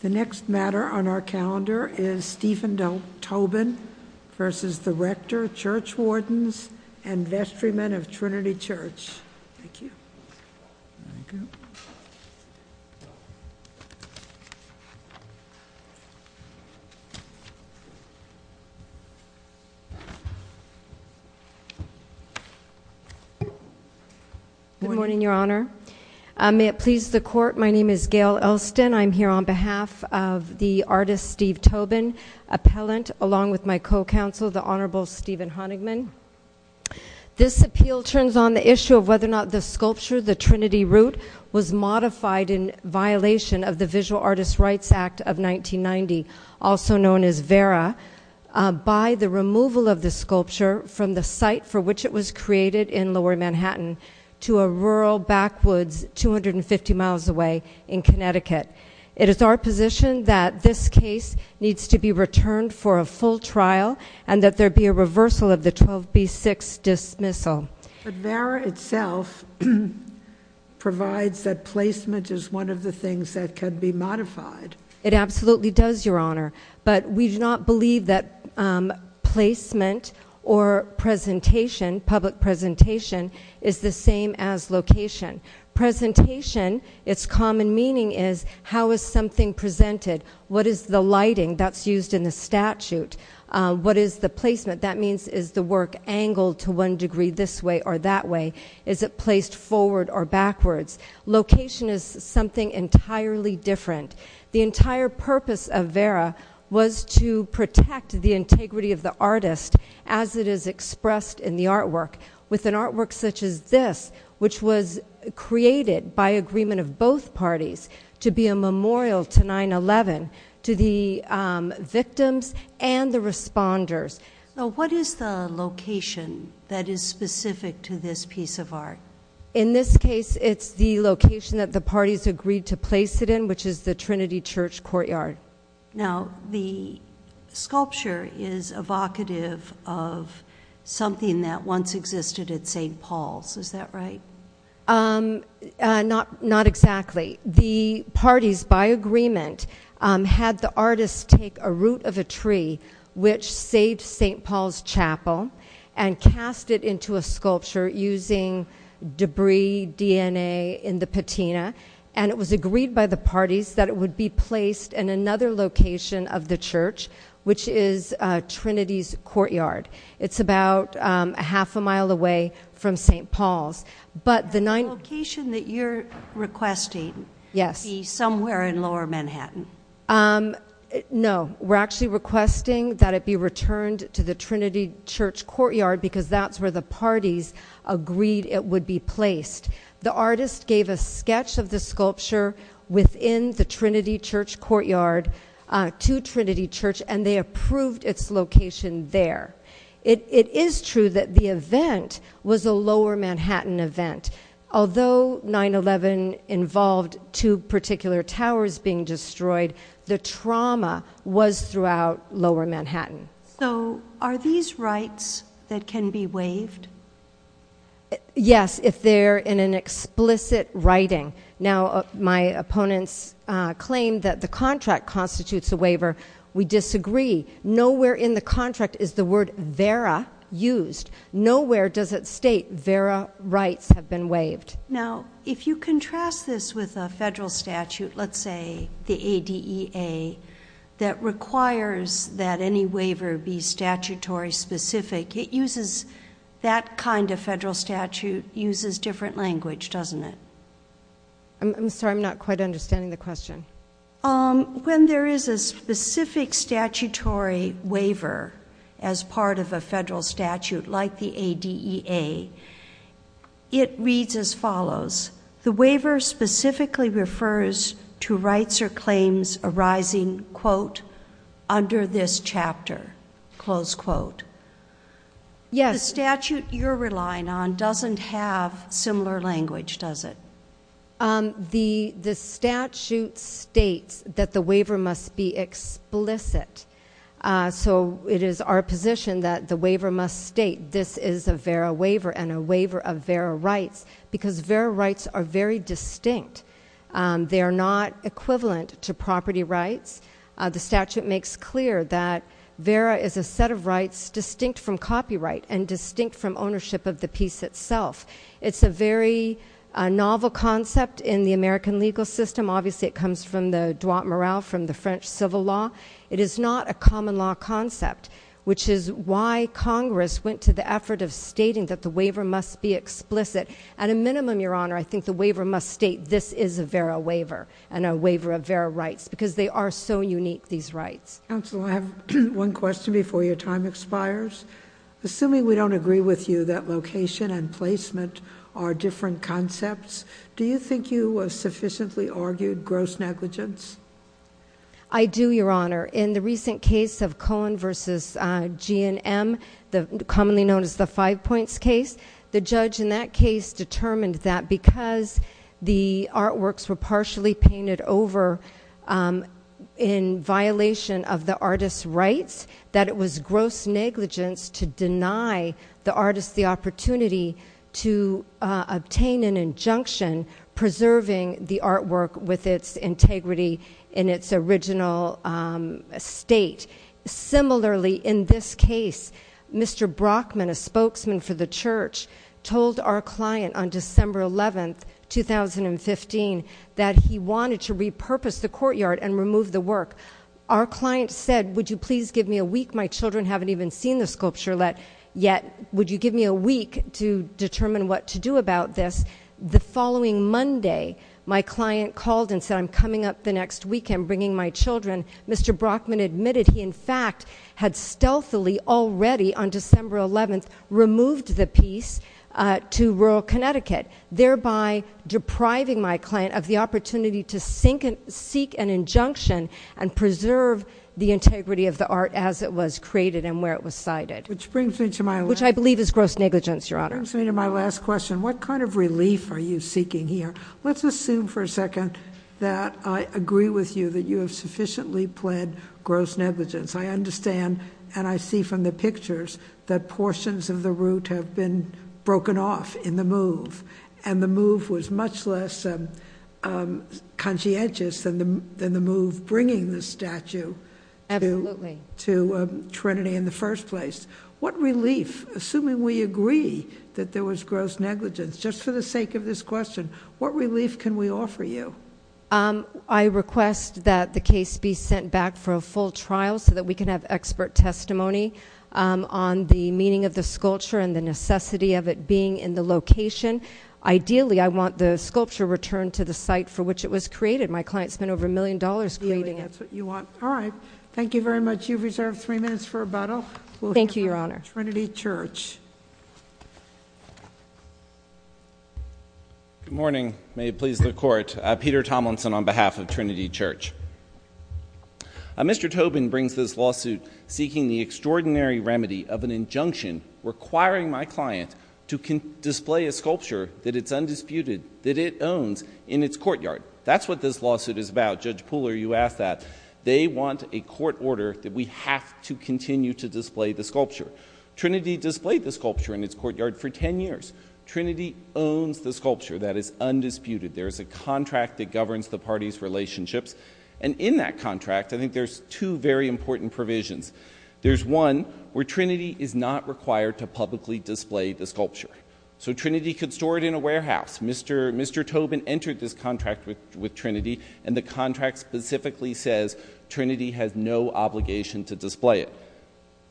The next matter on our calendar is Stephen Tobin v. The Rector, Church Wardens, and Vestrymen of Trinity Church. Thank you. Good morning, Your Honor. May it please the Court. I'm here on behalf of the artist Steve Tobin, appellant, along with my co-counsel, the Honorable Stephen Honigman. This appeal turns on the issue of whether or not the sculpture, the Trinity Root, was modified in violation of the Visual Artist Rights Act of 1990, also known as VERA, by the removal of the sculpture from the site for which it was created in 1996. It is our position that this case needs to be returned for a full trial and that there be a reversal of the 12b-6 dismissal. But VERA itself provides that placement is one of the things that could be modified. It absolutely does, Your Honor, but we do not believe that placement or presentation, public presentation, is the same as location. Presentation, its something presented. What is the lighting that's used in the statute? What is the placement? That means is the work angled to one degree this way or that way? Is it placed forward or backwards? Location is something entirely different. The entire purpose of VERA was to protect the integrity of the artist as it is expressed in the artwork. With an artwork such as this, which was created by agreement of both parties to be a memorial to 9-11, to the victims and the responders. What is the location that is specific to this piece of art? In this case, it's the location that the parties agreed to place it in, which is the Trinity Church Courtyard. Now, the sculpture is evocative of something that once existed at St. Paul's, is that right? Not exactly. The parties, by agreement, had the artist take a root of a tree, which saved St. Paul's Chapel, and cast it into a sculpture using debris, DNA, in the patina. It was agreed by the parties that it would be placed in another location of the church, which is Trinity's Courtyard. It's about a half a mile away from St. Paul's. The location that you're requesting would be somewhere in lower Manhattan? No, we're actually requesting that it be returned to the Trinity Church Courtyard, because that's where the parties agreed it would be placed. The artist gave a sketch of the sculpture within the Trinity Church Courtyard to Trinity Church, and they approved its location there. It is true that the event was a lower Manhattan event. Although 9-11 involved two particular towers being destroyed, the trauma was throughout lower Manhattan. Are these rights that can be waived? Yes, if they're in an explicit writing. Now, my opponents claim that the contract constitutes a waiver. We disagree. Nowhere in the contract is the word vera used. Nowhere does it state vera rights have been waived. Now, if you contrast this with a federal statute, let's say the ADEA, that requires that any waiver be statutory specific, that kind of federal statute uses different language, doesn't it? I'm sorry, I'm not quite understanding the question. As part of a federal statute like the ADEA, it reads as follows, the waiver specifically refers to rights or claims arising, quote, under this chapter, close quote. Yes. The statute you're relying on doesn't have similar language, does it? The statute states that the waiver must be in a position that the waiver must state this is a vera waiver and a waiver of vera rights because vera rights are very distinct. They are not equivalent to property rights. The statute makes clear that vera is a set of rights distinct from copyright and distinct from ownership of the piece itself. It's a very novel concept in the American legal system. Obviously, it comes from the Droit Morel from the French civil law. It is not a common law concept, which is why Congress went to the effort of stating that the waiver must be explicit. At a minimum, Your Honor, I think the waiver must state this is a vera waiver and a waiver of vera rights because they are so unique, these rights. Counsel, I have one question before your time expires. Assuming we don't agree with you that location and placement are different concepts, do you think you sufficiently argued gross negligence? I do, Your Honor. In the recent case of Cohen v. G&M, commonly known as the five points case, the judge in that case determined that because the artworks were partially painted over in violation of the artist's rights, that it was gross negligence to deny the artist the opportunity to obtain an injunction preserving the artwork with its integrity in its original state. Similarly, in this case, Mr. Brockman, a spokesman for the church, told our client on December 11, 2015, that he wanted to repurpose the courtyard and remove the work. Our client said, would you please give me a week? My children haven't even seen the sculpture yet. Would you give me a week to determine what to do about this? The following Monday, my client called and said, I'm coming up the next week. I'm bringing my children. Mr. Brockman admitted he, in fact, had stealthily already on December 11 removed the piece to rural Connecticut, thereby depriving my client of the opportunity to seek an injunction and preserve the integrity of the art as it was created and where it was cited. Which brings me to my last question. Which I believe is the question. What kind of relief are you seeking here? Let's assume for a second that I agree with you that you have sufficiently pled gross negligence. I understand and I see from the pictures that portions of the route have been broken off in the move. And the move was much less conscientious than the move bringing the statue to Trinity in the first place. What relief, assuming we agree that there was gross negligence, just for the sake of this question, what relief can we offer you? I request that the case be sent back for a full trial so that we can have expert testimony on the meaning of the sculpture and the necessity of it being in the location. Ideally, I want the sculpture returned to the site for which it was created. My client spent over a million dollars creating it. Ideally, that's what you want. All right. Thank you very much. You've reserved three minutes for rebuttal. Thank you, Your Honor. Trinity Church. Good morning. May it please the Court. Peter Tomlinson on behalf of Trinity Church. Mr. Tobin brings this lawsuit seeking the extraordinary remedy of an injunction requiring my client to display a sculpture that it's undisputed that it owns in its courtyard. That's what this lawsuit is about. Judge Pooler, you asked that. They want a court order that we have to continue to display the sculpture. Trinity displayed the sculpture in its courtyard for 10 years. Trinity owns the sculpture that is undisputed. There is a contract that governs the parties' relationships. In that contract, I think there's two very important provisions. There's one where Trinity is not required to publicly display the sculpture. Trinity could store it in a warehouse. Mr. Tobin entered this contract with Trinity. The contract specifically says Trinity has no obligation to display it.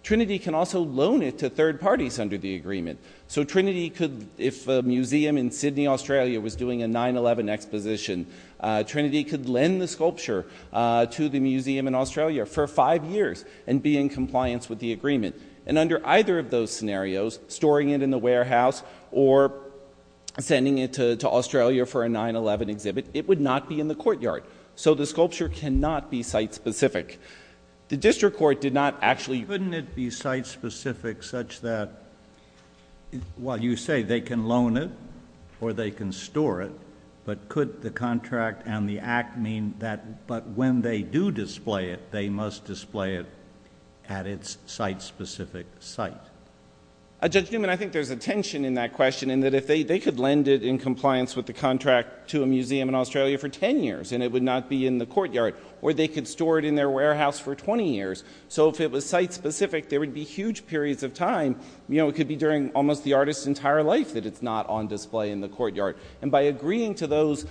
Trinity can also loan it to third parties under the agreement. If a museum in Sydney, Australia was doing a 9-11 exposition, Trinity could lend the sculpture to the museum in Australia for five years and be in compliance with the agreement. Under either of those be in the courtyard. So the sculpture cannot be site-specific. The district court did not actually... Couldn't it be site-specific such that, well, you say they can loan it or they can store it, but could the contract and the act mean that, but when they do display it, they must display it at its site-specific site? Judge Newman, I think there's a tension in that question in that if they could lend it in compliance with the contract to a museum in Australia for 10 years and it would not be in the courtyard, or they could store it in their warehouse for 20 years. So if it was site-specific, there would be huge periods of time. It could be during almost the artist's entire life that it's not on display in the courtyard. And by agreeing to those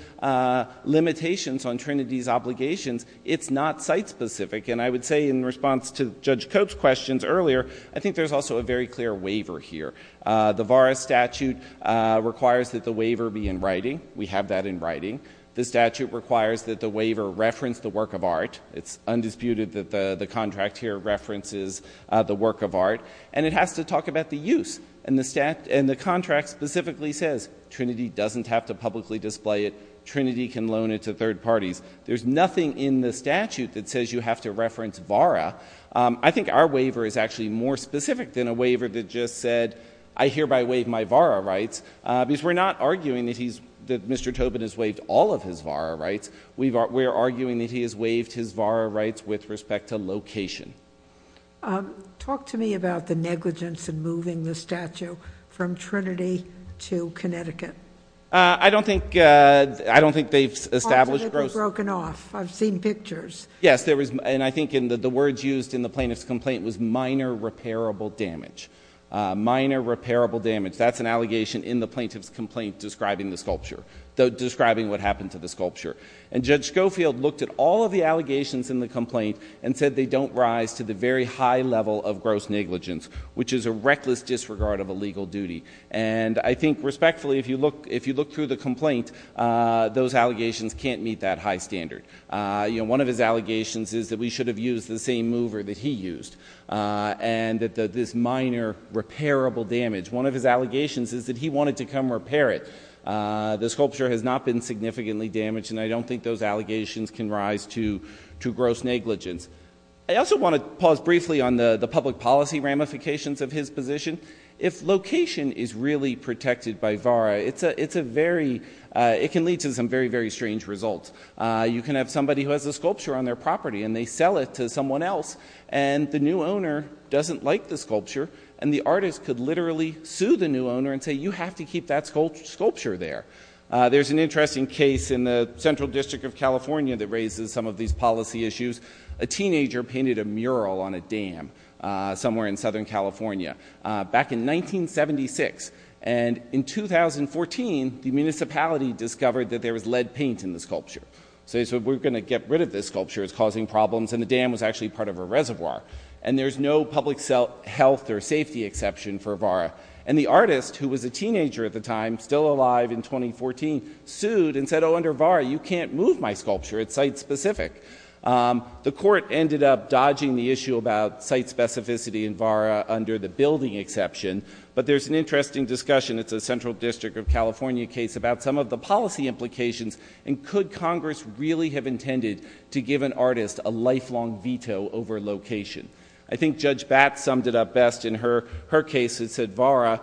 limitations on Trinity's obligations, it's not site-specific. And I would say in response to Judge Cope's questions earlier, I think there's also a very clear waiver here. The VARA statute requires that the waiver be in writing. We have that in writing. The statute requires that the waiver reference the work of art. It's undisputed that the contract here references the work of art. And it has to talk about the use. And the contract specifically says Trinity doesn't have to publicly display it. Trinity can loan it to third parties. There's nothing in the statute that says you have to reference VARA. I think our waiver is actually more than that. We're not arguing that Mr. Tobin has waived all of his VARA rights. We're arguing that he has waived his VARA rights with respect to location. Talk to me about the negligence in moving the statue from Trinity to Connecticut. I don't think they've established gross... Parts of it were broken off. I've seen pictures. Yes. And I think the words used in the plaintiff's complaint was minor repairable damage. Minor repairable damage. And I think that's what the plaintiff's complaint is describing the sculpture, describing what happened to the sculpture. And Judge Schofield looked at all of the allegations in the complaint and said they don't rise to the very high level of gross negligence, which is a reckless disregard of a legal duty. And I think respectfully, if you look through the complaint, those allegations can't meet that high standard. One of his allegations is that we should have used the same mover that he used and that this minor repairable damage. One of his allegations is that he wanted to come repair it. The sculpture has not been significantly damaged and I don't think those allegations can rise to gross negligence. I also want to pause briefly on the public policy ramifications of his position. If location is really protected by VARA, it's a very... it can lead to some very, very strange results. You can have somebody who has a sculpture on their property and they sell it to someone else and the new owner doesn't like the sculpture and the artist could literally sue the new owner and say you have to keep that sculpture there. There's an interesting case in the Central District of California that raises some of these policy issues. A teenager painted a mural on a dam somewhere in Southern California back in 1976. And in 2014, the municipality discovered that there was lead paint in the sculpture. So he said we're going to get rid of this sculpture. It's causing problems and the dam was actually part of a reservoir. And there's no public health or safety exception for VARA. And the artist, who was a teenager at the time, still alive in 2014, sued and said oh under VARA you can't move my sculpture. It's site specific. The court ended up dodging the issue about site specificity and VARA under the building exception. But there's an interesting discussion. It's a Central District of California case about some of the policy implications and could Congress really have intended to give an artist a lifelong veto over location? I think Judge Batts summed it up best in her case. It said VARA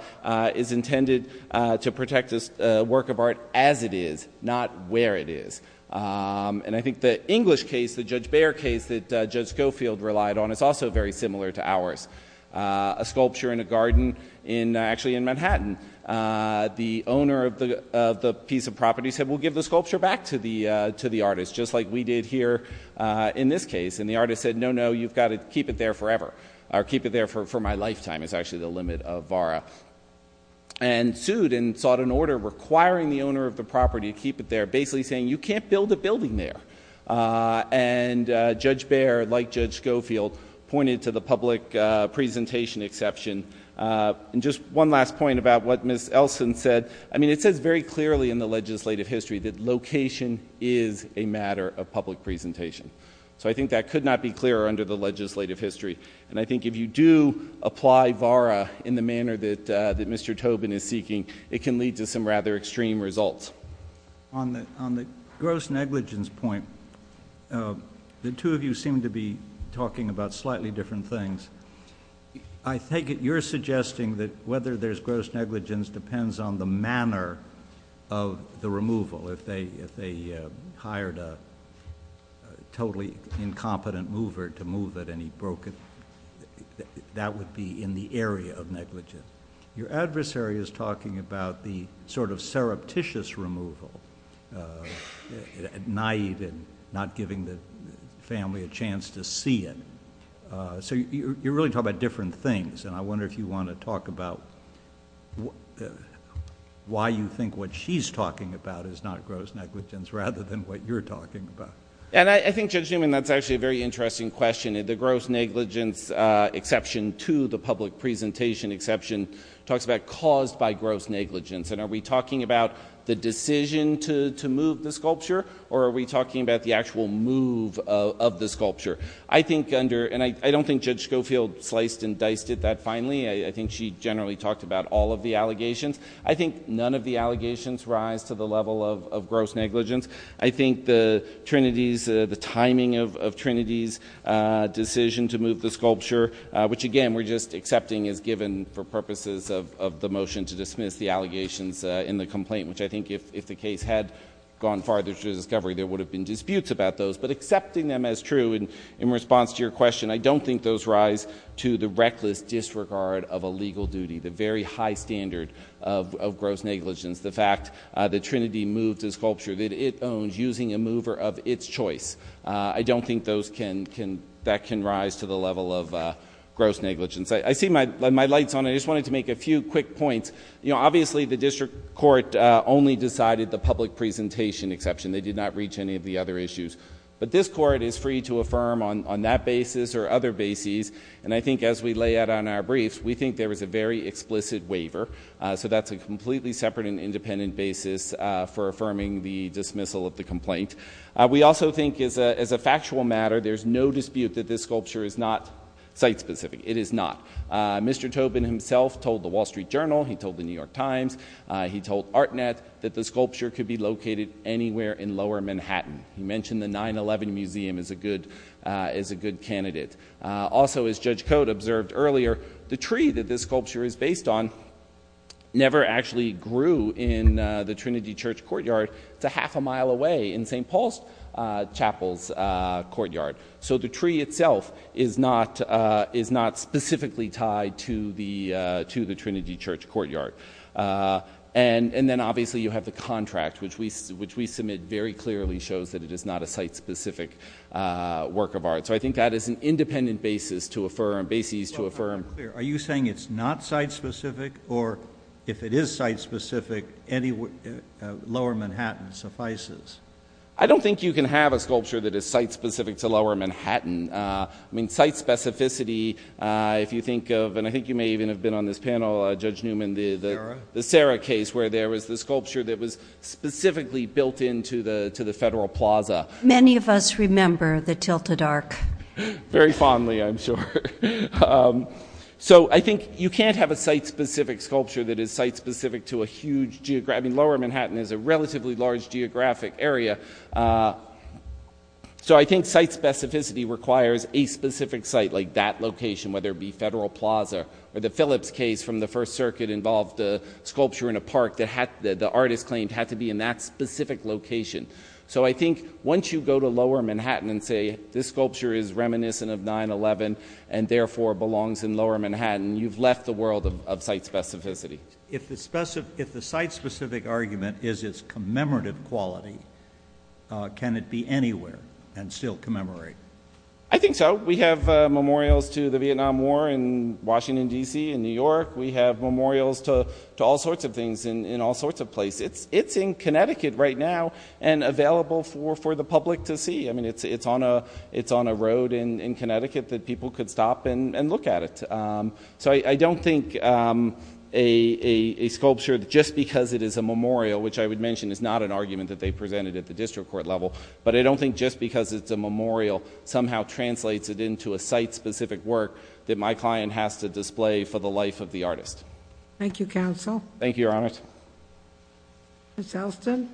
is intended to protect a work of art as it is, not where it is. And I think the English case, the Judge Bayer case that Judge Schofield relied on is also very similar to ours. A sculpture in a garden actually in Manhattan. The owner of the piece of property said we'll give the sculpture back to the artist, just like we did here in this case. And the artist said no, no, you've got to keep it there forever. Or keep it there for my lifetime is actually the limit of VARA. And sued and sought an order requiring the owner of the property to keep it there, basically saying you can't build a building there. And Judge Bayer, like Judge Schofield, pointed to the public presentation exception. And just one last point about what Ms. Elson said. I mean it says very clearly in the legislative history that location is a matter of public presentation. So I think that could not be clearer under the legislative history. And I think if you do apply VARA in the manner that Mr. Tobin is seeking, it can lead to some rather extreme results. On the gross negligence point, the two of you seem to be talking about slightly different things. I take it you're suggesting that whether there's gross negligence depends on the manner of the removal. If they hired a totally incompetent mover to move it and he broke it, that would be in the area of negligence. Your adversary is talking about the sort of surreptitious removal, naïve and not giving the family a chance to see it. So you're suggesting you're really talking about different things. And I wonder if you want to talk about why you think what she's talking about is not gross negligence rather than what you're talking about. And I think, Judge Newman, that's actually a very interesting question. The gross negligence exception to the public presentation exception talks about caused by gross negligence. And are we talking about the decision to move the sculpture or are we talking about the decision to move the sculpture? I think Judge Schofield sliced and diced at that finally. I think she generally talked about all of the allegations. I think none of the allegations rise to the level of gross negligence. I think the Trinity's, the timing of Trinity's decision to move the sculpture, which again we're just accepting as given for purposes of the motion to dismiss the allegations in the complaint, which I think if the case had gone farther to discovery, there would have been disputes about those. But accepting them as true in response to your question, I don't think those rise to the reckless disregard of a legal duty, the very high standard of gross negligence, the fact the Trinity moved the sculpture that it owns using a mover of its choice. I don't think those can, that can rise to the level of gross negligence. I see my light's on. I just wanted to make a few quick points. You know, obviously the district court only decided the public presentation exception. They did not reach any of the other issues. But this court is free to affirm on that basis or other bases, and I think as we lay out on our briefs, we think there is a very explicit waiver. So that's a completely separate and independent basis for affirming the dismissal of the complaint. We also think as a factual matter, there's no dispute that this sculpture is not site specific. It is not. Mr. Tobin himself told the Wall Street Journal, he told the New York Times, he told Artnet that the sculpture could be located anywhere in lower Manhattan. He mentioned the 9-11 museum as a good, as a good candidate. Also as Judge Cote observed earlier, the tree that this sculpture is based on never actually grew in the Trinity Church courtyard. It's a half a mile away in St. Paul's Chapel's courtyard. So the tree itself is not, is not specifically tied to the, to the Trinity Church courtyard. And then obviously you have the contract, which we, which we submit very clearly shows that it is not a site specific work of art. So I think that is an independent basis to affirm, bases to affirm. Well, I'm not clear. Are you saying it's not site specific, or if it is site specific, any lower Manhattan suffices? I don't think you can have a sculpture that is site specific to lower Manhattan. I mean, site specificity, if you think of, and I think you may even have been on this panel, Judge Newman, the, the Sarah case, where there was the sculpture that was specifically built into the, to the Federal Plaza. Many of us remember the Tilted Arc. Very fondly, I'm sure. So I think you can't have a site specific sculpture that is site specific to a huge, I mean, lower Manhattan is a relatively large geographic area. So I think site specificity requires a specific site like that location, whether it be Federal Circuit involved a sculpture in a park that had, that the artist claimed had to be in that specific location. So I think once you go to lower Manhattan and say, this sculpture is reminiscent of 9-11, and therefore belongs in lower Manhattan, you've left the world of site specificity. If the site specific argument is its commemorative quality, can it be anywhere and still commemorate? I think so. We have memorials to the Vietnam War in Washington, D.C. and New York. We have memorials to all sorts of things in all sorts of places. It's in Connecticut right now and available for the public to see. I mean, it's on a road in Connecticut that people could stop and look at it. So I don't think a sculpture, just because it is a memorial, which I would mention is not an argument that they presented at the district court level, but I don't think just because it's a memorial somehow translates it into a site specific work that my client has to display for the life of the artist. Thank you, counsel. Thank you, Your Honor. Ms. Elston?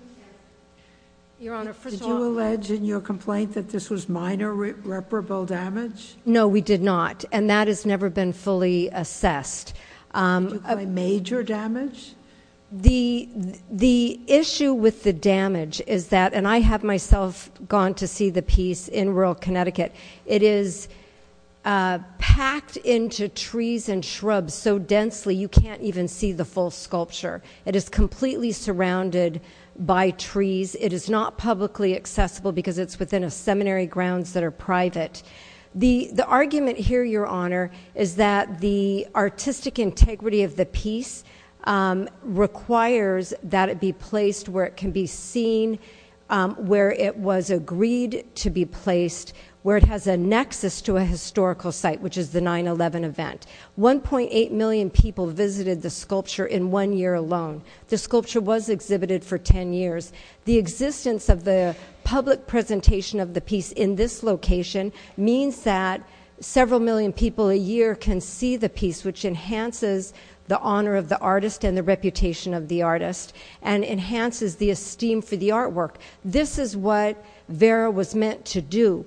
Your Honor, first of all— Did you allege in your complaint that this was minor reparable damage? No, we did not. And that has never been fully assessed. Major damage? The issue with the damage is that, and I have myself gone to see the piece in rural Connecticut, it is packed into trees and shrubs so densely you can't even see the full sculpture. It is completely surrounded by trees. It is not publicly accessible because it's within a seminary grounds that are private. The argument here, Your Honor, is that the artistic integrity of the piece requires that it be placed where it can be seen, where it was agreed to be placed, where it has a nexus to a historical site, which is the 9-11 event. 1.8 million people visited the sculpture in one year alone. The sculpture was exhibited for 10 years. The existence of the public presentation of the piece in this location means that several million people a year can see the piece, which enhances the honor of the artist and the reputation of the artist and enhances the esteem for the artwork. This is what Vera was meant to do.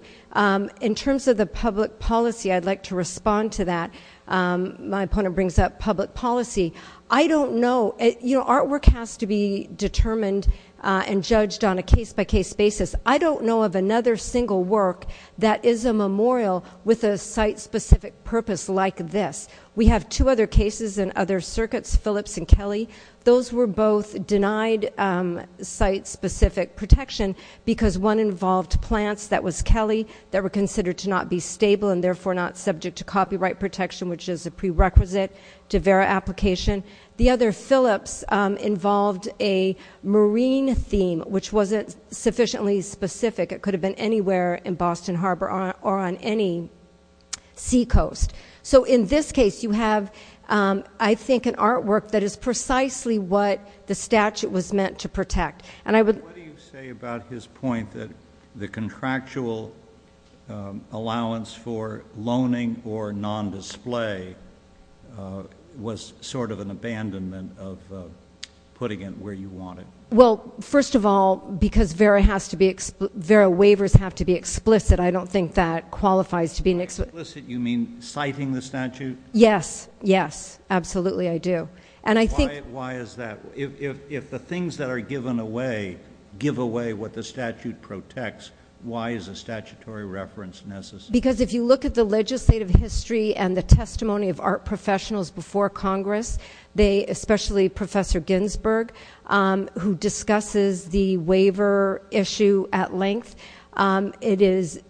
In terms of the public policy, I'd like to respond to that. My opponent brings up public policy. I don't know. Artwork has to be determined and judged on a case-by-case basis. I don't know of another single work that is a memorial with a site-specific purpose like this. We have two other cases in other circuits, Phillips and Kelly. Those were both denied site-specific protection because one involved plants that was Kelly that were considered to not be stable and therefore not subject to copyright protection, which is a prerequisite to Vera application. The other, Phillips, involved a marine theme, which wasn't sufficiently specific. It could have been anywhere in Boston Harbor or on any seacoast. In this case, you have, I think, an artwork that is precisely what the statue was meant to protect. What do you say about his point that the contractual allowance for loaning or non-display was sort of an abandonment of putting it where you want it? First of all, because Vera waivers have to be explicit, I don't think that qualifies to be an explicit... Explicit, you mean citing the statute? Yes. Yes. Absolutely, I do. And why is that? If the things that are given away give away what the statute protects, why is a statutory reference necessary? Because if you look at the legislative history and the testimony of art professionals before Congress, especially Professor Ginsberg, who discusses the waiver issue at length,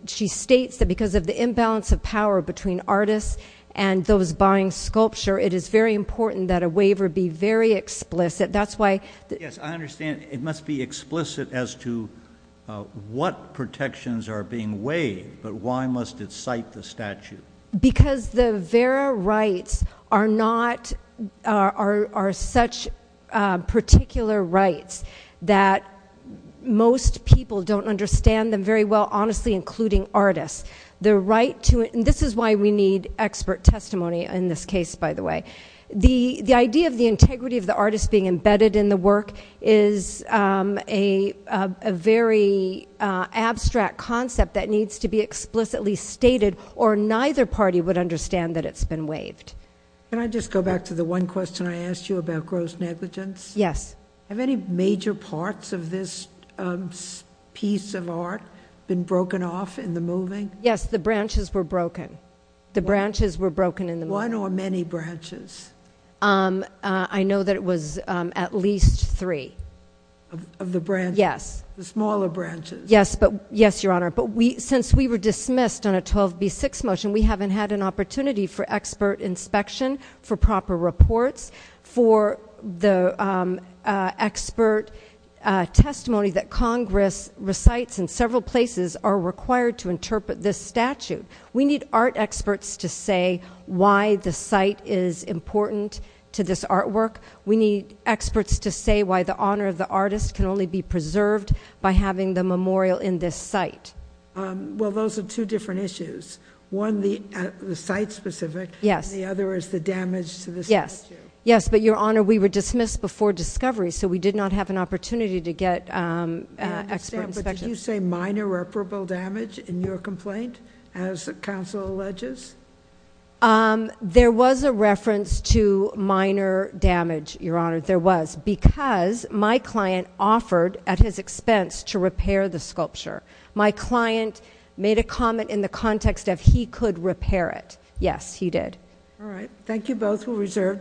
she states that because of the imbalance of power between artists and those buying sculpture, it is very important that a waiver be very explicit. That's why... Yes, I understand it must be explicit as to what protections are being waived, but why must it cite the statute? Because the Vera rights are such particular rights that most people don't understand them very well, honestly, including artists. The right to... And this is why we need expert testimony in this case, by the way. The idea of the integrity of the artist being embedded in the work is a very abstract concept that needs to be explicitly stated, or neither party would understand that it's been waived. Can I just go back to the one question I asked you about gross negligence? Yes. Have any major parts of this piece of art been broken off in the moving? Yes, the branches were broken. The branches were broken in the moving. One or many branches? I know that it was at least three. Of the branches? Yes. The smaller branches? Yes, Your Honor. Since we were dismissed on a 12B6 motion, we haven't had an opportunity for expert inspection, for proper reports, for the expert testimony that Congress recites in several places are required to interpret this statute. We need art experts to say why the site is important to this artwork. We need experts to say why the honor of the artist can only be preserved by having the memorial in this site. Well, those are two different issues. One, the site-specific, and the other is the damage to the statute. Yes, but Your Honor, we were dismissed before discovery, so we did not have an opportunity to get expert inspection. I understand, but did you say minor reparable damage in your complaint, as counsel alleges? There was a reference to minor damage, Your Honor, there was, because my client offered at his expense to repair the sculpture. My client made a comment in the context of he could repair it. Yes, he did. All right. Thank you both. We'll reserve decision.